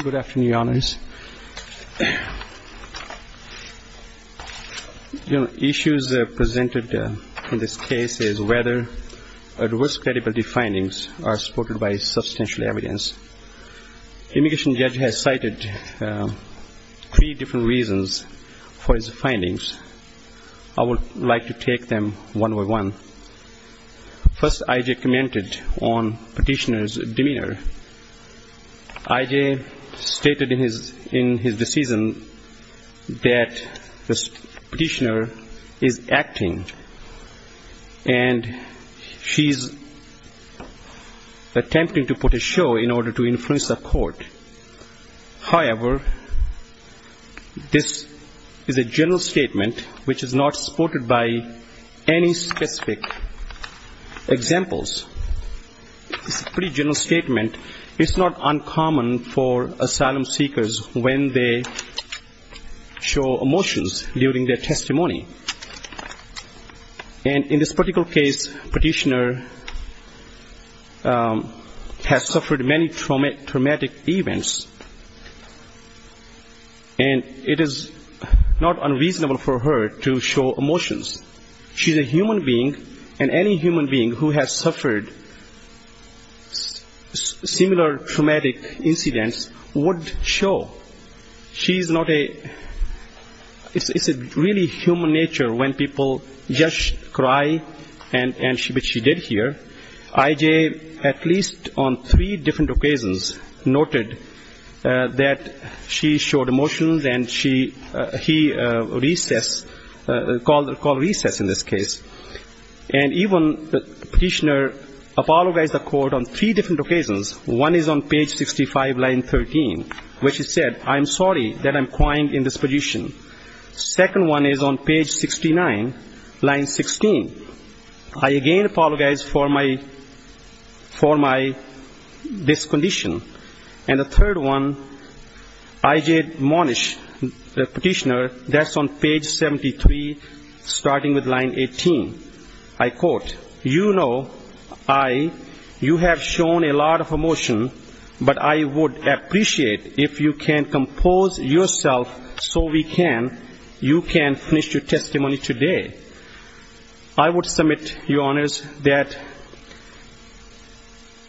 Good afternoon, your honors. Issues presented in this case is whether adverse credibility findings are supported by substantial evidence. Immigration judge has cited three different reasons for his findings. I would like to take them one by one. First, I commented on I.J. stated in his decision that the petitioner is acting and she's attempting to put a show in order to influence the court. However, this is a general statement which is not supported by any specific examples. It's a pretty general statement. It's not uncommon for asylum seekers when they show emotions during their testimony. And in this particular case, petitioner has shown emotions. She's a human being and any human being who has suffered similar traumatic incidents would show. She's not a, it's really human nature when people just cry, which she did here. I.J., at least on three different occasions, noted that she showed emotions and she, he recessed, called a recess in this case. And even the petitioner apologized to the court on three different occasions. One is on page 65, line 13, where she said, I'm sorry that I'm crying in this position. Second one is on page 69, line 16. I again apologized for my, for my discondition. And the third one, I.J. Monish, the petitioner, that's on page 73, starting with line 18. I quote, you know I, you have shown a lot of emotion, but I would appreciate if you can compose yourself so we can, you can finish your testimony today. I would submit, Your Honors, that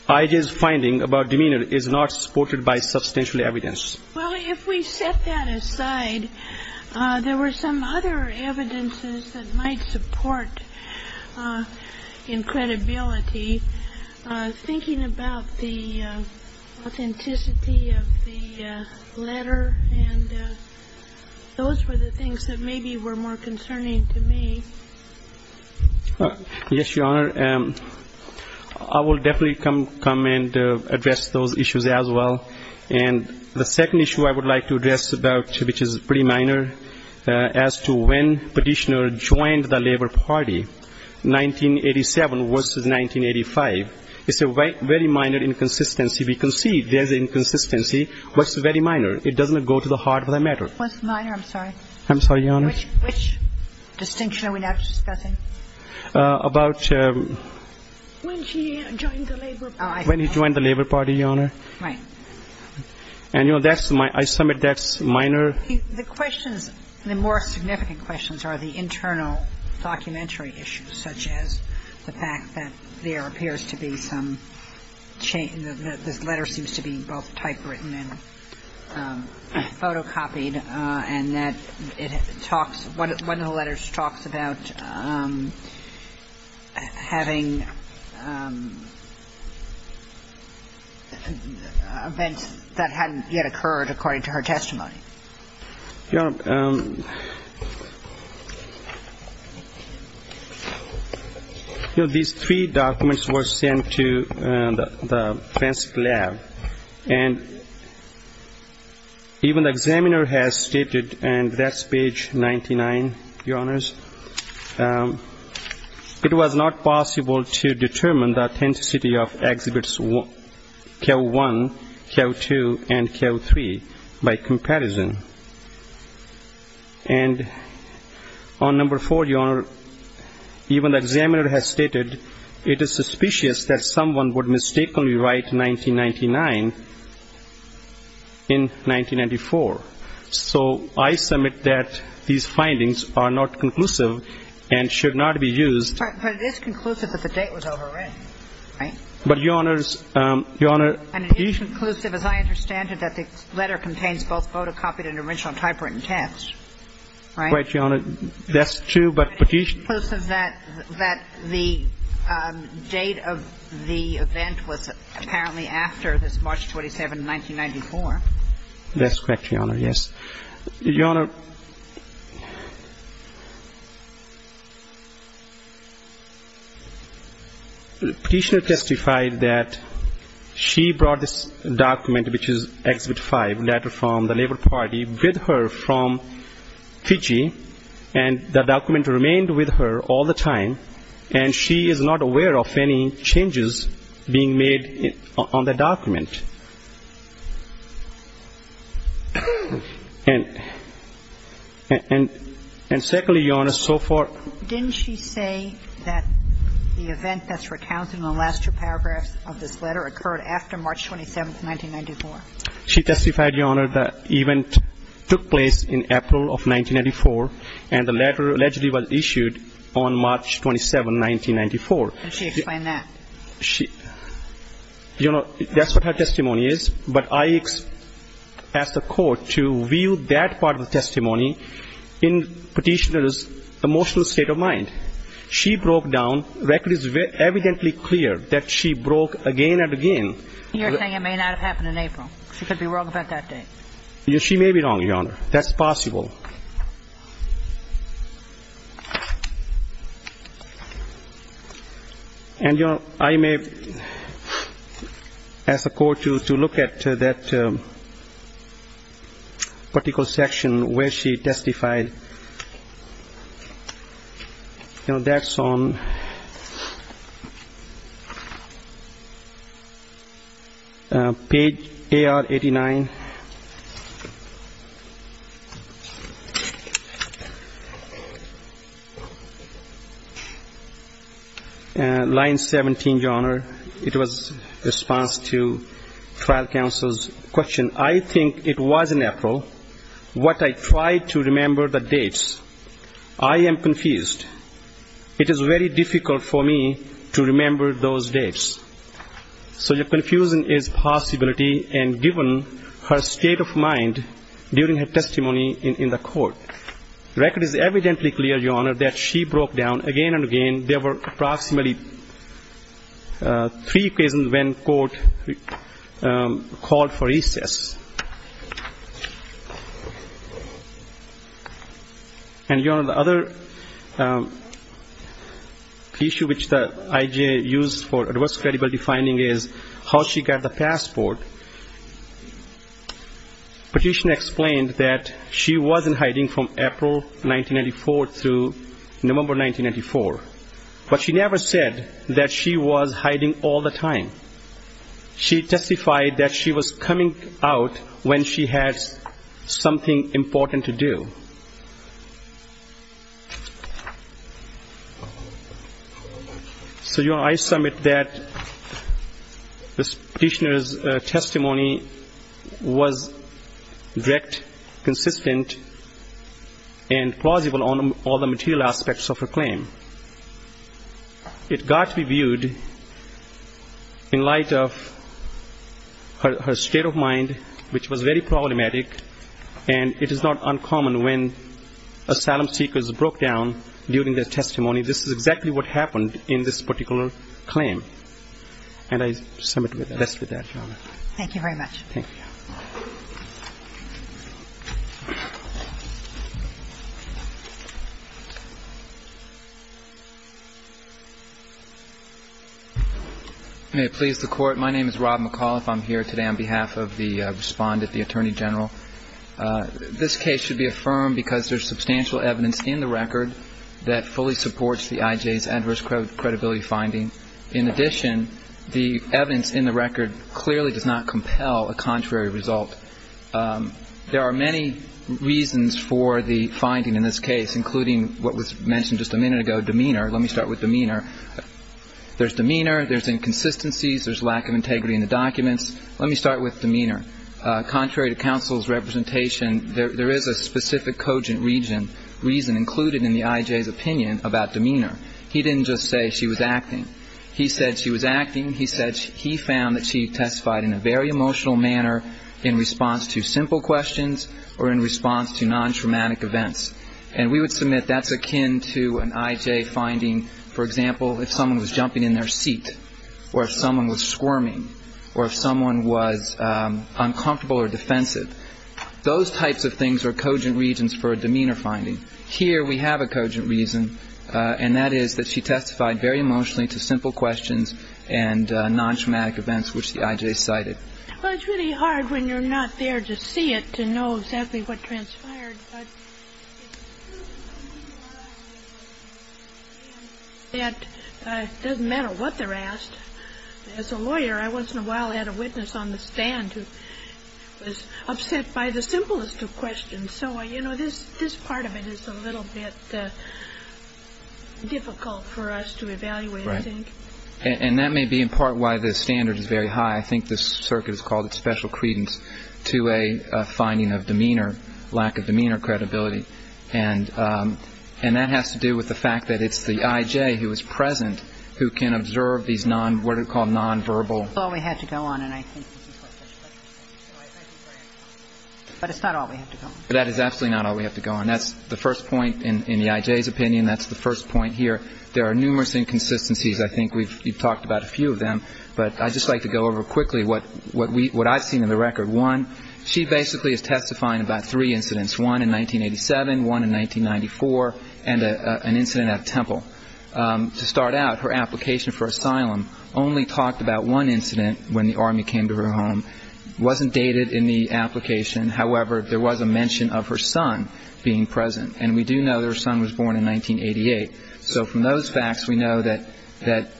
I.J.'s finding about demeanor is not supported by substantial evidence. Well, if we set that aside, there were some other evidences that might support incredibility. Thinking about the authenticity of the letter and those were the things that maybe were more concerning to me. Yes, Your Honor. I will definitely come, come and address those issues as well. And the second issue I would like to address about, which is pretty minor, as to when petitioner joined the Labor Party, 1987 versus 1985. It's a very minor inconsistency. We can see there's inconsistency, but it's very minor. It doesn't go to the heart of the matter. What's minor? I'm sorry. I'm sorry, Your Honor. Which distinction are we now discussing? About. When he joined the Labor Party. When he joined the Labor Party, Your Honor. Right. And, you know, that's my, I submit that's minor. The questions, the more significant questions are the internal documentary issues, such as the fact that there appears to be some, the letter seems to be both typewritten and photocopied and that it talks, one of the letters talks about having events that hadn't yet occurred, according to her testimony. Your Honor, you know, these three documents were sent to the Fenske Lab, and even the examiner has stated, and that's page 99, Your Honors, it was not possible to determine the authenticity of Exhibits K-1, K-2, and K-3 by comparison. And on number four, Your Honor, even the examiner has stated it is suspicious that someone would mistakenly write 1999 in 1994. So I submit that these findings are not conclusive and should not be used. But it is conclusive that the date was overwritten, right? But, Your Honors, Your Honor. And it is conclusive, as I understand it, that the letter contains both photocopied and original typewritten text, right? Right, Your Honor. That's true, but Petitioner. It's conclusive that the date of the event was apparently after this March 27, 1994. That's correct, Your Honor, yes. Your Honor, Petitioner testified that she brought this document, which is Exhibit 5, letter from the Labor Party, with her from Fiji, and the document remained with her all the time, and she is not aware of any changes being made on the document. And secondly, Your Honor, so far ---- Didn't she say that the event that's recounted in the last two paragraphs of this letter occurred after March 27, 1994? She testified, Your Honor, that the event took place in April of 1994, and the letter allegedly was issued on March 27, 1994. Did she explain that? She ---- You know, that's what her testimony is, but I asked the court to view that part of the testimony in Petitioner's emotional state of mind. She broke down. The record is evidently clear that she broke again and again. You're saying it may not have happened in April. She could be wrong about that date. She may be wrong, Your Honor. That's possible. And, Your Honor, I may ask the court to look at that particular section where she testified. You know, that's on page AR-89. Line 17, Your Honor, it was response to trial counsel's question. I think it was in April. What I tried to remember the dates. I am confused. It is very difficult for me to remember those dates. So your confusion is possibility and given her state of mind during her testimony in the court. The record is evidently clear, Your Honor, that she broke down again and again. There were approximately three occasions when court called for recess. And, Your Honor, the other issue which the I.J. used for adverse credibility finding is how she got the passport. Petitioner explained that she wasn't hiding from April 1994 through November 1994. But she never said that she was hiding all the time. She testified that she was coming out when she had something important to do. So, Your Honor, I submit that this petitioner's testimony was direct, consistent, and plausible on all the material aspects of her claim. It got reviewed in light of her state of mind, which was very problematic, and it is not uncommon when asylum seekers broke down during their testimony. This is exactly what happened in this particular claim. And I submit rest with that, Your Honor. Thank you very much. Thank you. May it please the Court. My name is Rob McAuliffe. I'm here today on behalf of the respondent, the Attorney General. This case should be affirmed because there's substantial evidence in the record that fully supports the I.J.'s adverse credibility finding. In addition, the evidence in the record clearly does not compel a contrary result. There are many reasons for the finding in this case, including what was mentioned just a minute ago, demeanor. Let me start with demeanor. There's demeanor. There's inconsistencies. There's lack of integrity in the documents. Let me start with demeanor. Contrary to counsel's representation, there is a specific cogent reason included in the I.J.'s opinion about demeanor. He didn't just say she was acting. He said she was acting. He said he found that she testified in a very emotional manner in response to simple questions or in response to nontraumatic events. And we would submit that's akin to an I.J. finding, for example, if someone was jumping in their seat or if someone was squirming or if someone was uncomfortable or defensive. Those types of things are cogent reasons for a demeanor finding. Here we have a cogent reason, and that is that she testified very emotionally to simple questions and nontraumatic events, which the I.J. cited. Well, it's really hard when you're not there to see it to know exactly what transpired. It doesn't matter what they're asked. As a lawyer, I once in a while had a witness on the stand who was upset by the simplest of questions. So, you know, this part of it is a little bit difficult for us to evaluate, I think. And that may be in part why the standard is very high. I think this circuit has called it special credence to a finding of demeanor, lack of demeanor credibility. And that has to do with the fact that it's the I.J. who is present who can observe these what are called nonverbal... That's all we have to go on, and I think... But it's not all we have to go on. That is absolutely not all we have to go on. That's the first point in the I.J.'s opinion. That's the first point here. There are numerous inconsistencies. I think we've talked about a few of them. But I'd just like to go over quickly what I've seen in the record. One, she basically is testifying about three incidents. One in 1987, one in 1994, and an incident at a temple. To start out, her application for asylum only talked about one incident when the Army came to her home. It wasn't dated in the application. However, there was a mention of her son being present. And we do know that her son was born in 1988. So from those facts, we know that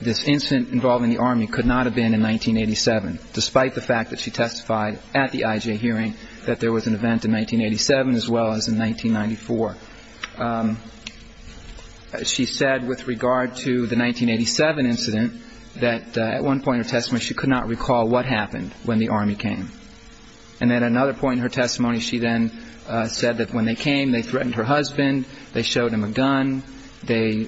this incident involving the Army could not have been in 1987 despite the fact that she testified at the I.J. hearing that there was an event in 1987 as well as in 1994. She said with regard to the 1987 incident that at one point in her testimony she could not recall what happened when the Army came. And at another point in her testimony, she then said that when they came, they threatened her husband, they showed him a gun, they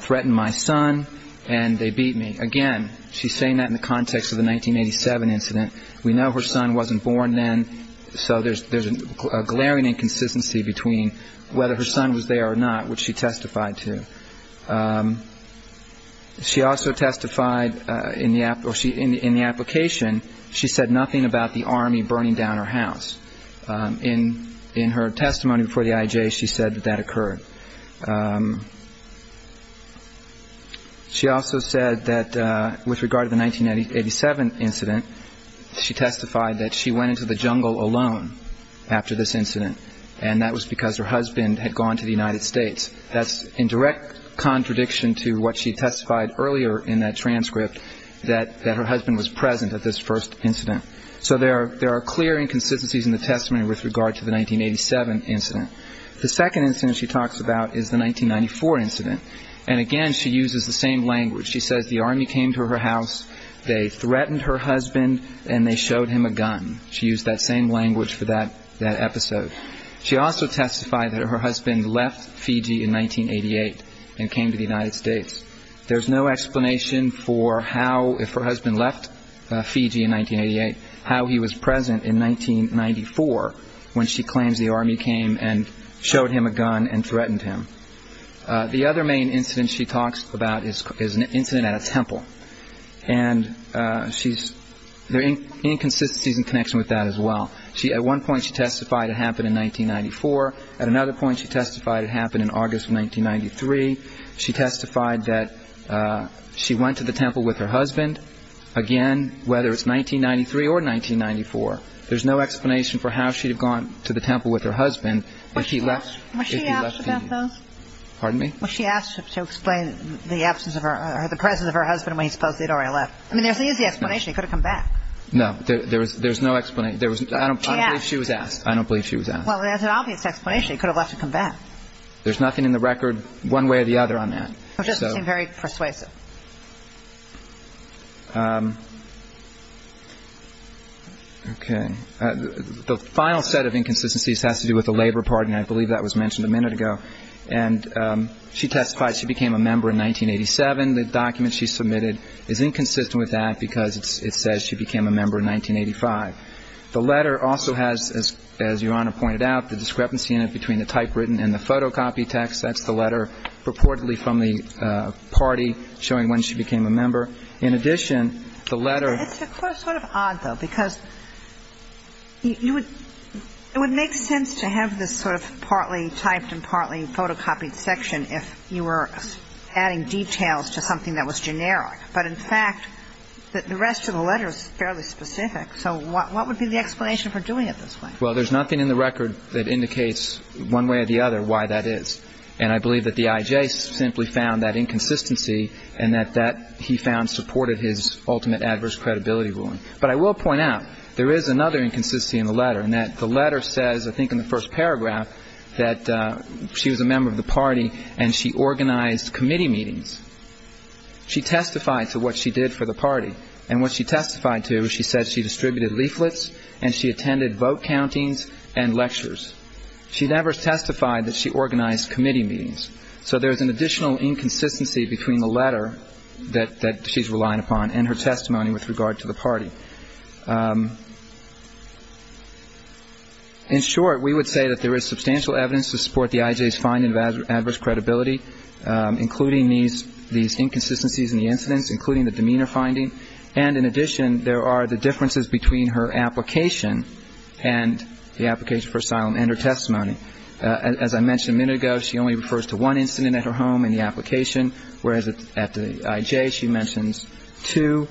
threatened my son, and they beat me. Again, she's saying that in the context of the 1987 incident. We know her son wasn't born then, so there's a glaring inconsistency between whether her son was there or not, which she testified to. She also testified in the application, she said nothing about the Army burning down her house. In her testimony before the I.J., she said that that occurred. She also said that with regard to the 1987 incident, she testified that she went into the jungle alone after this incident, and that was because her husband had gone to the United States. That's in direct contradiction to what she testified earlier in that transcript, that her husband was present at this first incident. So there are clear inconsistencies in the testimony with regard to the 1987 incident. The second incident she talks about is the 1994 incident. And again, she uses the same language. She says the Army came to her house, they threatened her husband, and they showed him a gun. She used that same language for that episode. She also testified that her husband left Fiji in 1988 and came to the United States. There's no explanation for how, if her husband left Fiji in 1988, how he was present in 1994 when she claims the Army came and showed him a gun and threatened him. The other main incident she talks about is an incident at a temple. And she's... There are inconsistencies in connection with that as well. At one point, she testified it happened in 1994. At another point, she testified it happened in August of 1993. She testified that she went to the temple with her husband. Again, whether it's 1993 or 1994, there's no explanation for how she'd have gone to the temple with her husband if he left Fiji. Was she asked about those? Pardon me? Was she asked to explain the absence of her... the presence of her husband when he's supposed to have already left? I mean, there's an easy explanation. He could have come back. No, there's no explanation. I don't believe she was asked. She asked. I don't believe she was asked. Well, there's an obvious explanation. He could have left and come back. There's nothing in the record one way or the other on that. It just seemed very persuasive. Okay. The final set of inconsistencies has to do with the Labor Party, and I believe that was mentioned a minute ago. And she testified she became a member in 1987. The document she submitted is inconsistent with that because it says she became a member in 1985. The letter also has, as Your Honor pointed out, the discrepancy in it between the typewritten and the photocopied text. That's the letter purportedly from the party showing when she became a member. In addition, the letter... It's sort of odd, though, because it would make sense to have this sort of partly typed and partly photocopied section if you were adding details to something that was generic. But in fact, the rest of the letter is fairly specific. So what would be the explanation for doing it this way? Well, there's nothing in the record that indicates one way or the other why that is. And I believe that the I.J. simply found that inconsistency and that that he found supported his ultimate adverse credibility ruling. But I will point out there is another inconsistency in the letter in that the letter says, I think in the first paragraph, that she was a member of the party and she organized committee meetings. She testified to what she did for the party. And what she testified to is she said she distributed leaflets and she attended vote countings and lectures. She never testified that she organized committee meetings. So there's an additional inconsistency between the letter that she's relying upon and her testimony with regard to the party. In short, we would say that there is substantial evidence to support the I.J.'s finding of adverse credibility, including these inconsistencies in the incidents, including the demeanor finding. And in addition, there are the differences between her application and the application for asylum and her testimony. As I mentioned a minute ago, she only refers to one incident at her home in the application, whereas at the I.J. she mentions two.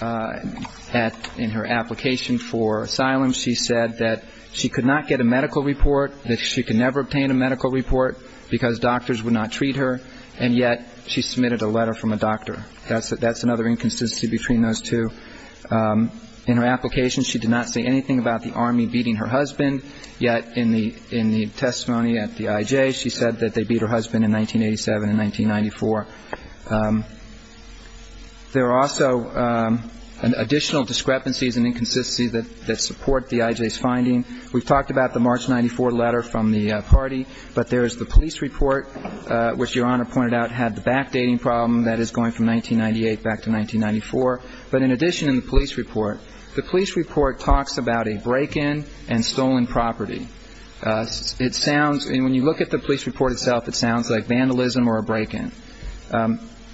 In her application for asylum, she said that she could not get a medical report, that she could never obtain a medical report because doctors would not treat her, and yet she submitted a letter from a doctor. That's another inconsistency between those two. In her application, she did not say anything about the Army beating her husband, yet in the testimony at the I.J. she said that they beat her husband in 1987 and 1994. There are also additional discrepancies and inconsistencies that support the I.J.'s finding. We've talked about the March 94 letter from the party, but there is the police report, which Your Honor pointed out had the backdating problem that is going from 1998 back to 1994. But in addition to the police report, the police report talks about a break-in and stolen property. When you look at the police report itself, it sounds like vandalism or a break-in.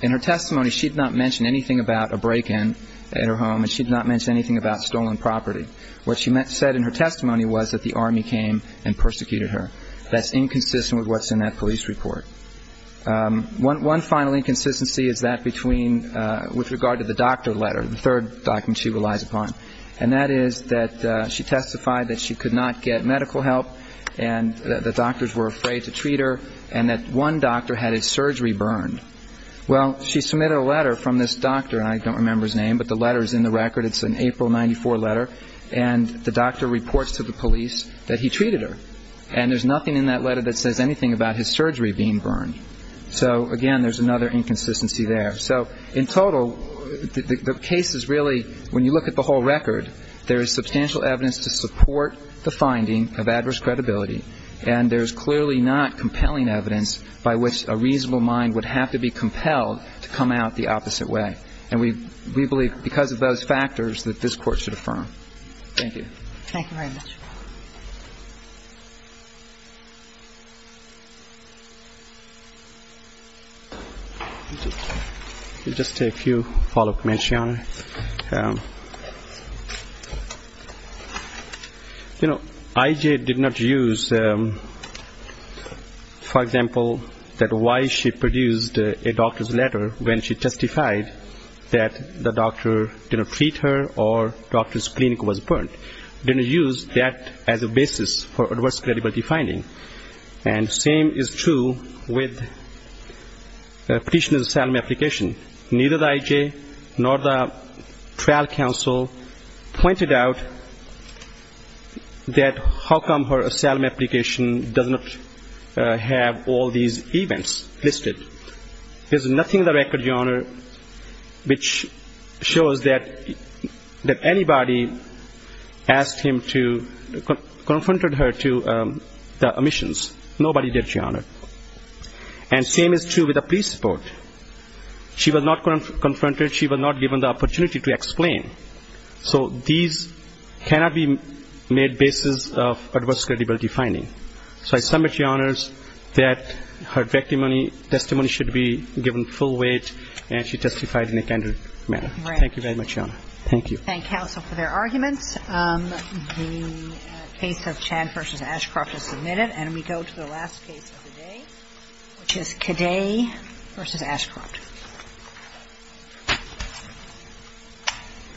In her testimony, she did not mention anything about a break-in at her home and she did not mention anything about stolen property. What she said in her testimony was that the Army came and persecuted her. That's inconsistent with what's in that police report. One final inconsistency is that with regard to the doctor letter, the third document she relies upon, and that is that she testified that she could not get medical help and the doctors were afraid to treat her and that one doctor had his surgery burned. Well, she submitted a letter from this doctor, and I don't remember his name, but the letter's in the record. It's an April 94 letter and the doctor reports to the police that he treated her and there's nothing in that letter that says anything about his surgery being burned. So, again, there's another inconsistency there. So, in total, the case is really... In the record, there is substantial evidence to support the finding of adverse credibility and there's clearly not compelling evidence by which a reasonable mind would have to be compelled to come out the opposite way. And we believe because of those factors that this Court should affirm. Thank you. Thank you very much. We'll just take a few follow-up questions. You know, I.J. did not use, for example, that why she produced a doctor's letter when she testified that the doctor didn't treat her or the doctor's clinic was burned. or the doctor's clinic was burned. as a basis for adverse credibility finding. And the same is true with the petitioner's asylum application. Neither I.J. nor the trial counsel pointed out that how come her asylum application does not have all these events listed. There's nothing in the record, Your Honour, which shows that anybody asked him to, confronted her to the omissions. Nobody did, Your Honour. And same is true with the police report. She was not confronted. She was not given the opportunity to explain. So these cannot be made basis of adverse credibility finding. So I submit, Your Honour, that her testimony should be given full weight and she testified in a candid manner. Thank you very much, Your Honour. Thank you. Thank counsel for their arguments. The case of Chan v. Ashcroft is submitted and we go to the last case of the day, which is Cadet v. Ashcroft.